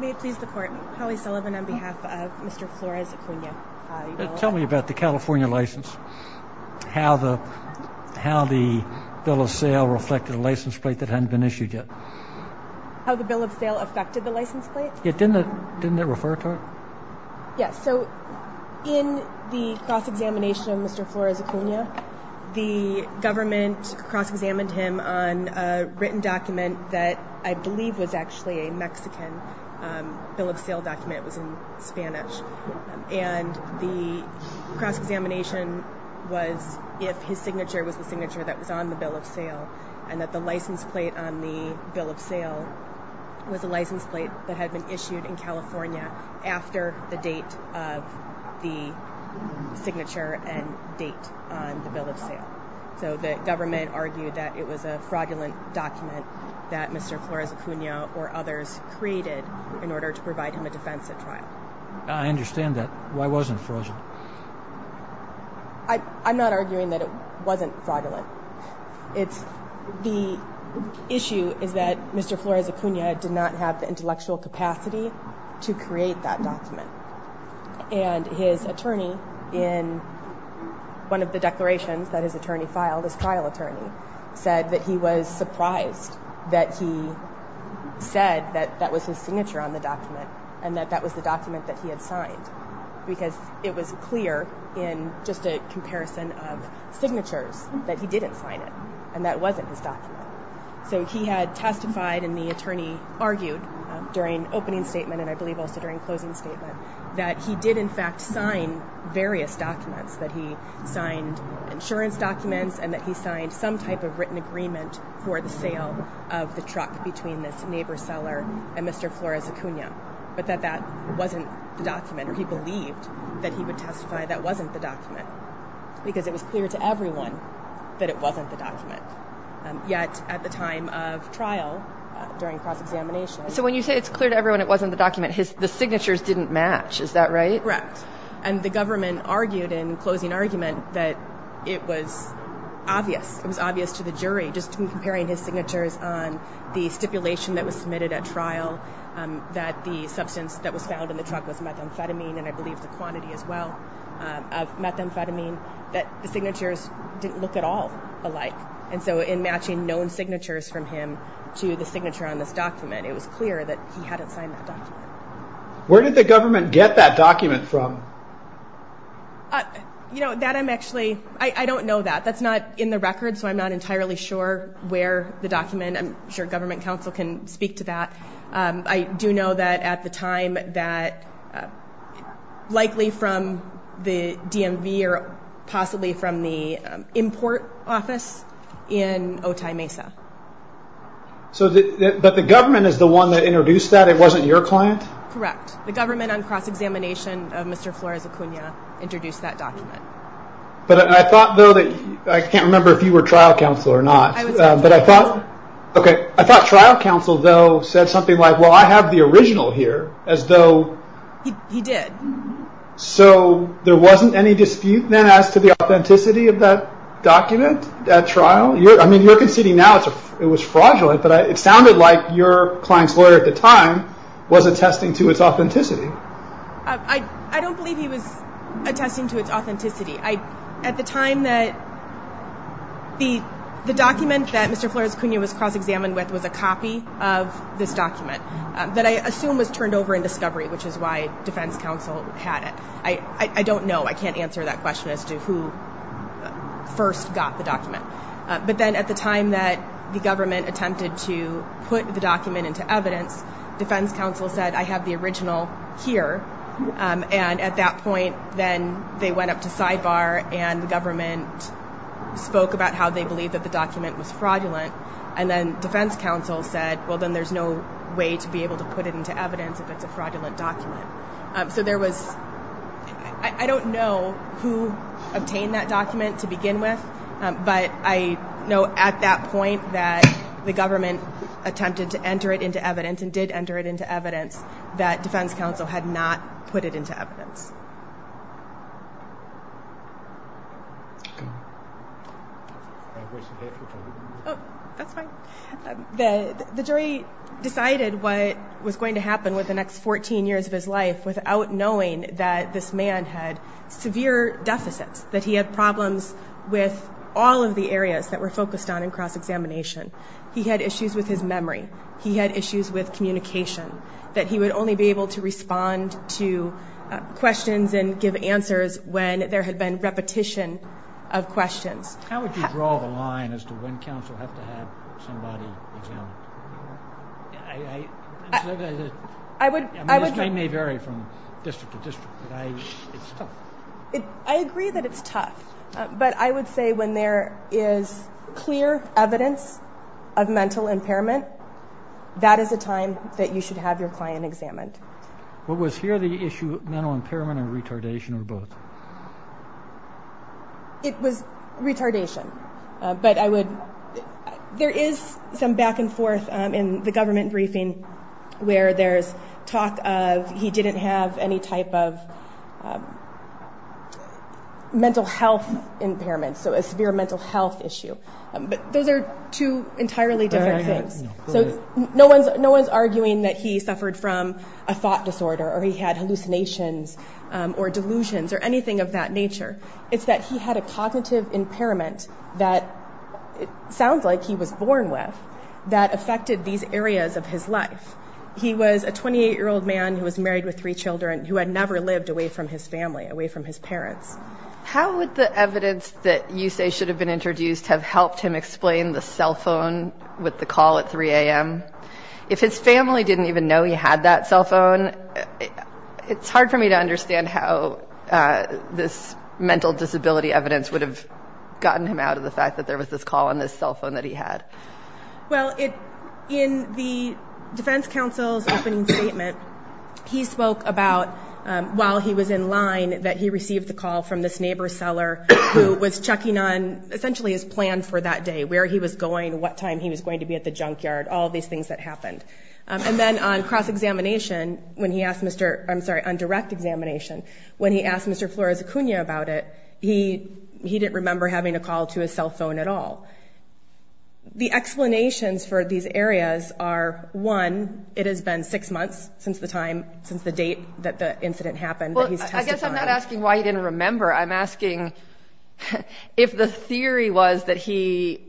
May it please the court, Holly Sullivan on behalf of Mr. Flores-Acuna. Tell me about the California license. How the bill of sale reflected a license plate that hadn't been issued yet. How the bill of sale affected the license plate? Didn't it refer to it? Yes, so in the cross-examination of Mr. Flores-Acuna, the government cross-examined him on a written document that I believe was actually a Mexican bill of sale document. It was in Spanish. And the cross-examination was if his signature was the signature that was on the bill of sale. And that the license plate on the bill of sale was a license plate that had been issued in California after the date of the signature and date on the bill of sale. So the government argued that it was a fraudulent document that Mr. Flores-Acuna or others created in order to provide him a defense at trial. I understand that. Why wasn't it fraudulent? I'm not arguing that it wasn't fraudulent. The issue is that Mr. Flores-Acuna did not have the intellectual capacity to create that document. And his attorney in one of the declarations that his attorney filed, his trial attorney, said that he was surprised that he said that that was his signature on the document. And that that was the document that he had signed. Because it was clear in just a comparison of signatures that he didn't sign it. And that wasn't his document. So he had testified and the attorney argued during opening statement and I believe also during closing statement that he did in fact sign various documents. That he signed insurance documents and that he signed some type of written agreement for the sale of the truck between this neighbor seller and Mr. Flores-Acuna. But that that wasn't the document or he believed that he would testify that wasn't the document. Because it was clear to everyone that it wasn't the document. Yet at the time of trial during cross-examination. So when you say it's clear to everyone it wasn't the document, the signatures didn't match, is that right? Correct. And the government argued in closing argument that it was obvious. It was obvious to the jury just in comparing his signatures on the stipulation that was submitted at trial. That the substance that was found in the truck was methamphetamine and I believe the quantity as well of methamphetamine. That the signatures didn't look at all alike. And so in matching known signatures from him to the signature on this document it was clear that he hadn't signed that document. Where did the government get that document from? You know that I'm actually, I don't know that. That's not in the record so I'm not entirely sure where the document, I'm sure government counsel can speak to that. I do know that at the time that likely from the DMV or possibly from the import office in Otay Mesa. But the government is the one that introduced that, it wasn't your client? Correct, the government on cross-examination of Mr. Flores Acuna introduced that document. But I thought though that, I can't remember if you were trial counsel or not. I was trial counsel. The government counsel though said something like well I have the original here as though. He did. So there wasn't any dispute then as to the authenticity of that document at trial? I mean you're conceding now it was fraudulent but it sounded like your client's lawyer at the time was attesting to its authenticity. I don't believe he was attesting to its authenticity. At the time that the document that Mr. Flores Acuna was cross-examined with was a copy of this document. That I assume was turned over in discovery which is why defense counsel had it. I don't know, I can't answer that question as to who first got the document. But then at the time that the government attempted to put the document into evidence, defense counsel said I have the original here. And at that point then they went up to sidebar and the government spoke about how they believed that the document was fraudulent. And then defense counsel said well then there's no way to be able to put it into evidence if it's a fraudulent document. So there was, I don't know who obtained that document to begin with. But I know at that point that the government attempted to enter it into evidence and did enter it into evidence that defense counsel had not put it into evidence. The jury decided what was going to happen with the next 14 years of his life without knowing that this man had severe deficits. That he had problems with all of the areas that were focused on in cross-examination. He had issues with his memory. He had issues with communication. That he would only be able to respond to questions and give answers when there had been repetition of questions. How would you draw the line as to when counsel had to have somebody examined? I may vary from district to district. It's tough. I agree that it's tough. But I would say when there is clear evidence of mental impairment, that is a time that you should have your client examined. Was here the issue of mental impairment or retardation or both? It was retardation. There is some back and forth in the government briefing where there is talk of he didn't have any type of mental health impairment. So a severe mental health issue. But those are two entirely different things. No one is arguing that he suffered from a thought disorder or he had hallucinations or delusions or anything of that nature. It's that he had a cognitive impairment that it sounds like he was born with that affected these areas of his life. He was a 28-year-old man who was married with three children who had never lived away from his family, away from his parents. How would the evidence that you say should have been introduced have helped him explain the cell phone with the call at 3 a.m.? If his family didn't even know he had that cell phone, it's hard for me to understand how this mental disability evidence would have gotten him out of the fact that there was this call on this cell phone that he had. Well, in the defense counsel's opening statement, he spoke about while he was in line that he received the call from this neighbor seller who was checking on essentially his plan for that day, where he was going, what time he was going to be at the junkyard, all of these things that happened. And then on cross-examination, when he asked Mr. – I'm sorry, on direct examination, when he asked Mr. Flores Acuna about it, he didn't remember having a call to his cell phone at all. The explanations for these areas are, one, it has been six months since the time, since the date that the incident happened that he's tested on. I'm not asking why he didn't remember. I'm asking if the theory was that he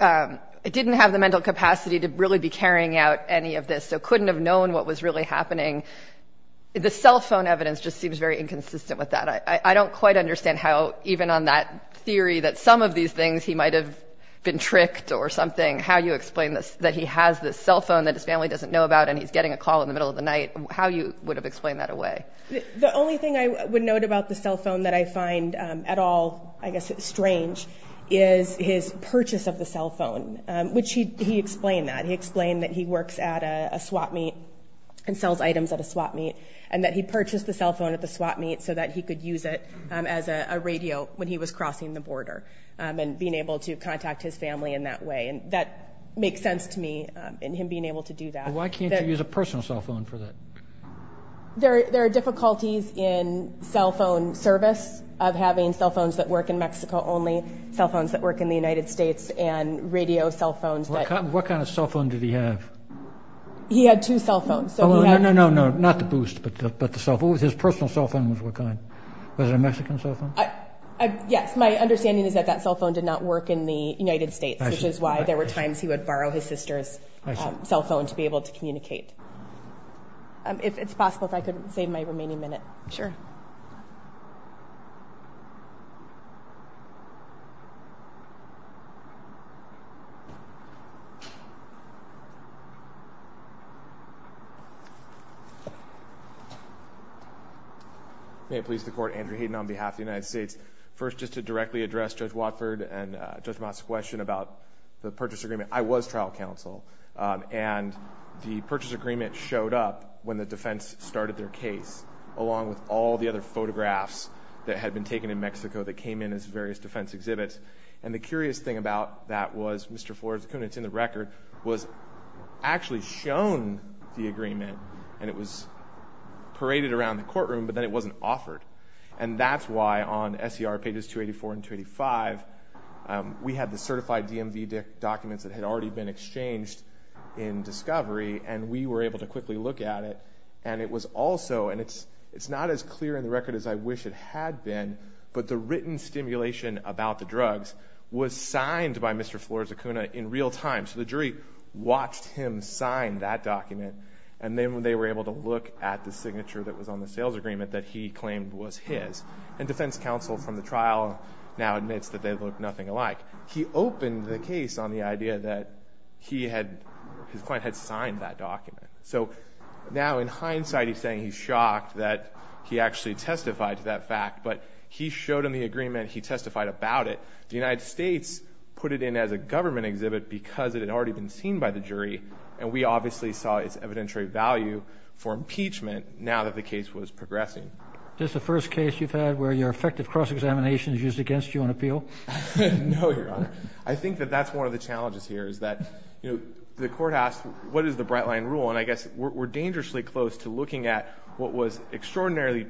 didn't have the mental capacity to really be carrying out any of this, so couldn't have known what was really happening. The cell phone evidence just seems very inconsistent with that. I don't quite understand how even on that theory that some of these things he might have been tricked or something, how you explain that he has this cell phone that his family doesn't know about and he's getting a call in the middle of the night, how you would have explained that away. The only thing I would note about the cell phone that I find at all, I guess, strange is his purchase of the cell phone, which he explained that. He explained that he works at a swap meet and sells items at a swap meet and that he purchased the cell phone at the swap meet so that he could use it as a radio when he was crossing the border and being able to contact his family in that way. And that makes sense to me in him being able to do that. Why can't you use a personal cell phone for that? There are difficulties in cell phone service of having cell phones that work in Mexico only, cell phones that work in the United States, and radio cell phones. What kind of cell phone did he have? He had two cell phones. Oh, no, no, no, not the Boost, but the cell phone. His personal cell phone was what kind? Was it a Mexican cell phone? Yes. My understanding is that that cell phone did not work in the United States, which is why there were times he would borrow his sister's cell phone to be able to communicate. It's possible if I could save my remaining minute. Sure. May it please the Court, Andrew Hayden on behalf of the United States. First, just to directly address Judge Watford and Judge Mott's question about the purchase agreement. I was trial counsel, and the purchase agreement showed up when the defense started their case, along with all the other photographs that had been taken in Mexico that came in as various defense exhibits. And the curious thing about that was Mr. Flores-Kunitz in the record was actually shown the agreement, and it was paraded around the courtroom, but then it wasn't offered. And that's why on SER pages 284 and 285, we had the certified DMV documents that had already been exchanged in discovery, and we were able to quickly look at it. And it was also, and it's not as clear in the record as I wish it had been, but the written stimulation about the drugs was signed by Mr. Flores-Kunitz in real time. So the jury watched him sign that document, and then they were able to look at the signature that was on the sales agreement that he claimed was his. And defense counsel from the trial now admits that they look nothing alike. He opened the case on the idea that his client had signed that document. So now in hindsight, he's saying he's shocked that he actually testified to that fact, but he showed him the agreement, he testified about it. The United States put it in as a government exhibit because it had already been seen by the jury, and we obviously saw its evidentiary value for impeachment now that the case was progressing. Is this the first case you've had where your effective cross-examination is used against you on appeal? No, Your Honor. I think that that's one of the challenges here is that, you know, the court asked what is the bright line rule, and I guess we're dangerously close to looking at what was extraordinarily,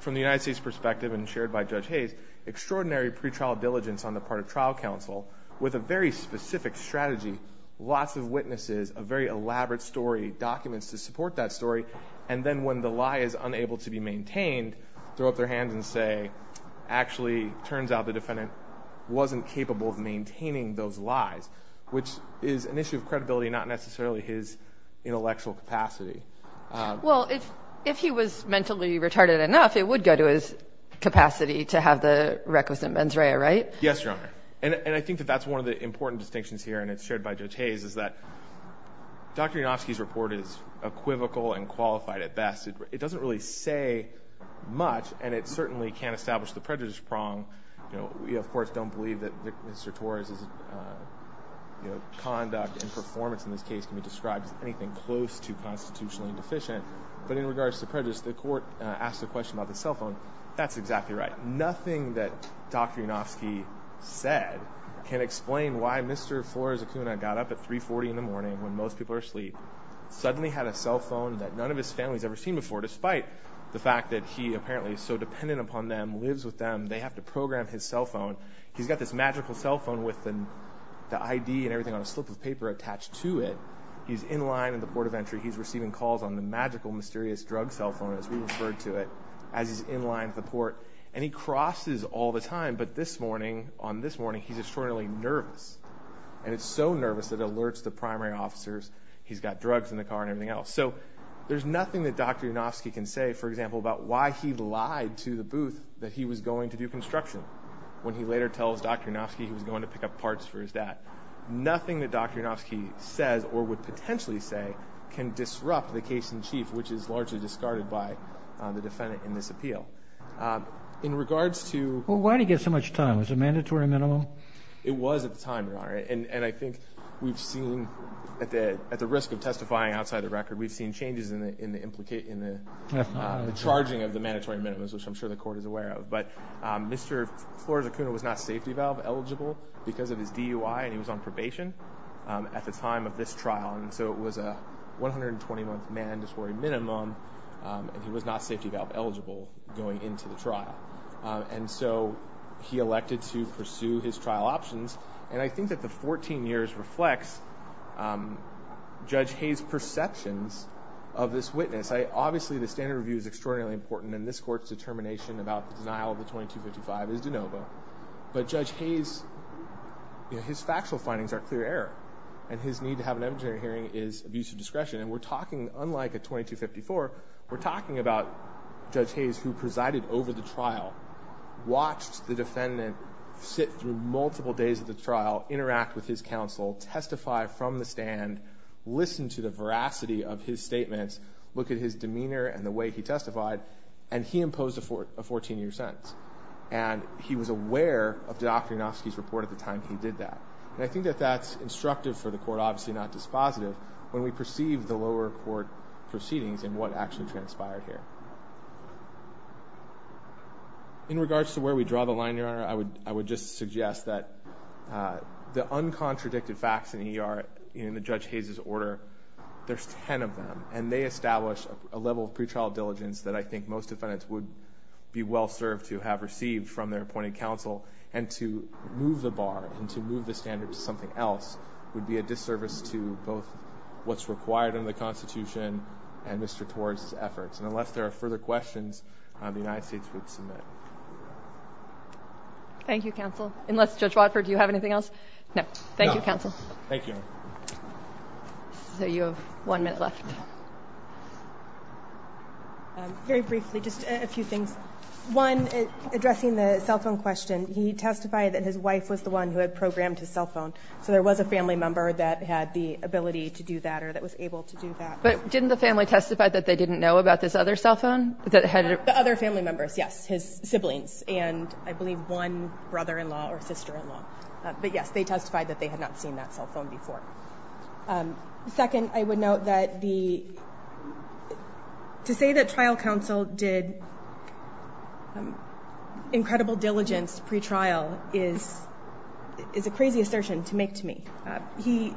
from the United States' perspective and shared by Judge Hayes, extraordinary pretrial diligence on the part of trial counsel with a very specific strategy, lots of witnesses, a very elaborate story, documents to support that story, and then when the lie is unable to be maintained, throw up their hands and say, actually turns out the defendant wasn't capable of maintaining those lies, which is an issue of credibility, not necessarily his intellectual capacity. Well, if he was mentally retarded enough, it would go to his capacity to have the requisite mens rea, right? Yes, Your Honor. And I think that that's one of the important distinctions here, and it's shared by Judge Hayes, is that Dr. Yanofsky's report is equivocal and qualified at best. It doesn't really say much, and it certainly can't establish the prejudice prong. We, of course, don't believe that Mr. Torres' conduct and performance in this case can be described as anything close to constitutionally deficient, but in regards to prejudice, the court asked a question about the cell phone. That's exactly right. Nothing that Dr. Yanofsky said can explain why Mr. Flores Acuna got up at 3.40 in the morning when most people are asleep, suddenly had a cell phone that none of his family's ever seen before, despite the fact that he apparently is so dependent upon them, lives with them, they have to program his cell phone. He's got this magical cell phone with the ID and everything on a slip of paper attached to it. He's in line at the port of entry. He's receiving calls on the magical, mysterious drug cell phone, as we referred to it, as he's in line at the port, and he crosses all the time. But this morning, on this morning, he's extraordinarily nervous, and it's so nervous it alerts the primary officers he's got drugs in the car and everything else. So there's nothing that Dr. Yanofsky can say, for example, about why he lied to the booth that he was going to do construction when he later tells Dr. Yanofsky he was going to pick up parts for his dad. Nothing that Dr. Yanofsky says or would potentially say can disrupt the case in chief, which is largely discarded by the defendant in this appeal. In regards to... Well, why did he get so much time? Was it a mandatory minimum? It was at the time, Your Honor, and I think we've seen at the risk of testifying outside the record, we've seen changes in the charging of the mandatory minimums, which I'm sure the court is aware of. But Mr. Flores-Acuna was not safety valve eligible because of his DUI, and he was on probation at the time of this trial. So it was a 120-month mandatory minimum, and he was not safety valve eligible going into the trial. And so he elected to pursue his trial options, and I think that the 14 years reflects Judge Hayes' perceptions of this witness. Obviously, the standard review is extraordinarily important, and this court's determination about the denial of the 2255 is de novo. But Judge Hayes, his factual findings are clear error, and his need to have an evidentiary hearing is abuse of discretion. And we're talking, unlike a 2254, we're talking about Judge Hayes who presided over the trial, watched the defendant sit through multiple days of the trial, interact with his counsel, testify from the stand, listen to the veracity of his statements, look at his demeanor and the way he testified, and he imposed a 14-year sentence. And he was aware of Dr. Yanofsky's report at the time he did that. And I think that that's instructive for the court, obviously not dispositive, when we perceive the lower court proceedings and what actually transpired here. In regards to where we draw the line here, Your Honor, I would just suggest that the uncontradicted facts in E.R., in Judge Hayes' order, there's 10 of them, and they establish a level of pretrial diligence that I think most defendants would be well-served to have received from their appointed counsel, and to move the bar and to move the standard to something else would be a disservice to both what's required under the Constitution and Mr. Torres' efforts. And unless there are further questions, the United States would submit. Thank you, counsel. Unless, Judge Watford, do you have anything else? No. Thank you, counsel. Thank you, Your Honor. So you have one minute left. Very briefly, just a few things. One, addressing the cell phone question, he testified that his wife was the one who had programmed his cell phone, so there was a family member that had the ability to do that or that was able to do that. But didn't the family testify that they didn't know about this other cell phone? The other family members, yes, his siblings, and I believe one brother-in-law or sister-in-law. But, yes, they testified that they had not seen that cell phone before. Second, I would note that to say that trial counsel did incredible diligence pre-trial is a crazy assertion to make to me. He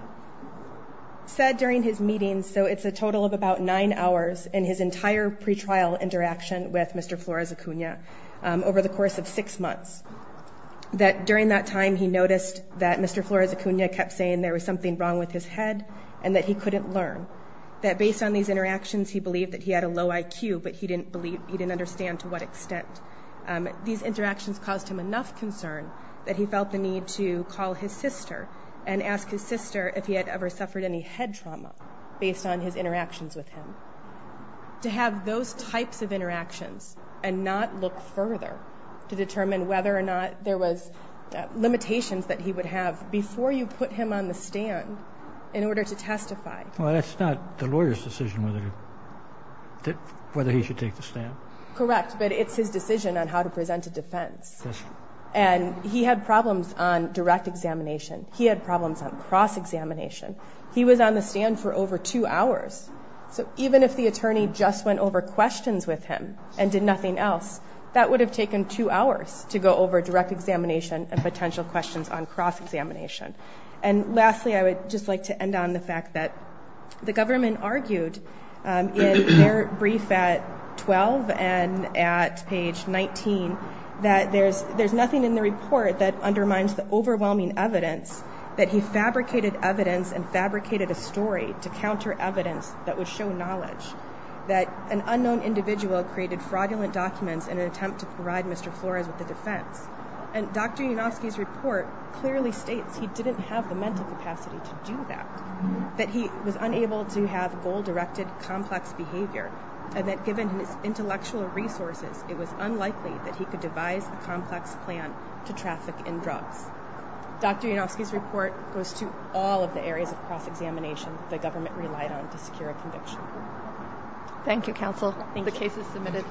said during his meetings, so it's a total of about nine hours in his entire pre-trial interaction with Mr. Flores Acuna over the course of six months, that during that time he noticed that Mr. Flores Acuna kept saying there was something wrong with his head and that he couldn't learn. That based on these interactions, he believed that he had a low IQ, but he didn't understand to what extent. These interactions caused him enough concern that he felt the need to call his sister and ask his sister if he had ever suffered any head trauma based on his interactions with him. To have those types of interactions and not look further to determine whether or not there was limitations that he would have before you put him on the stand in order to testify. Well, that's not the lawyer's decision whether he should take the stand. Correct, but it's his decision on how to present a defense. And he had problems on direct examination. He had problems on cross-examination. He was on the stand for over two hours. So even if the attorney just went over questions with him and did nothing else, that would have taken two hours to go over direct examination and potential questions on cross-examination. And lastly, I would just like to end on the fact that the government argued in their brief at 12 and at page 19 that there's nothing in the report that undermines the overwhelming evidence that he fabricated evidence and fabricated a story to counter evidence that would show knowledge. That an unknown individual created fraudulent documents in an attempt to provide Mr. Flores with a defense. And Dr. Yanofsky's report clearly states he didn't have the mental capacity to do that, that he was unable to have goal-directed complex behavior, and that given his intellectual resources, it was unlikely that he could devise a complex plan to traffic in drugs. Dr. Yanofsky's report goes to all of the areas of cross-examination that the government relied on to secure a conviction. Thank you, counsel. The case is submitted.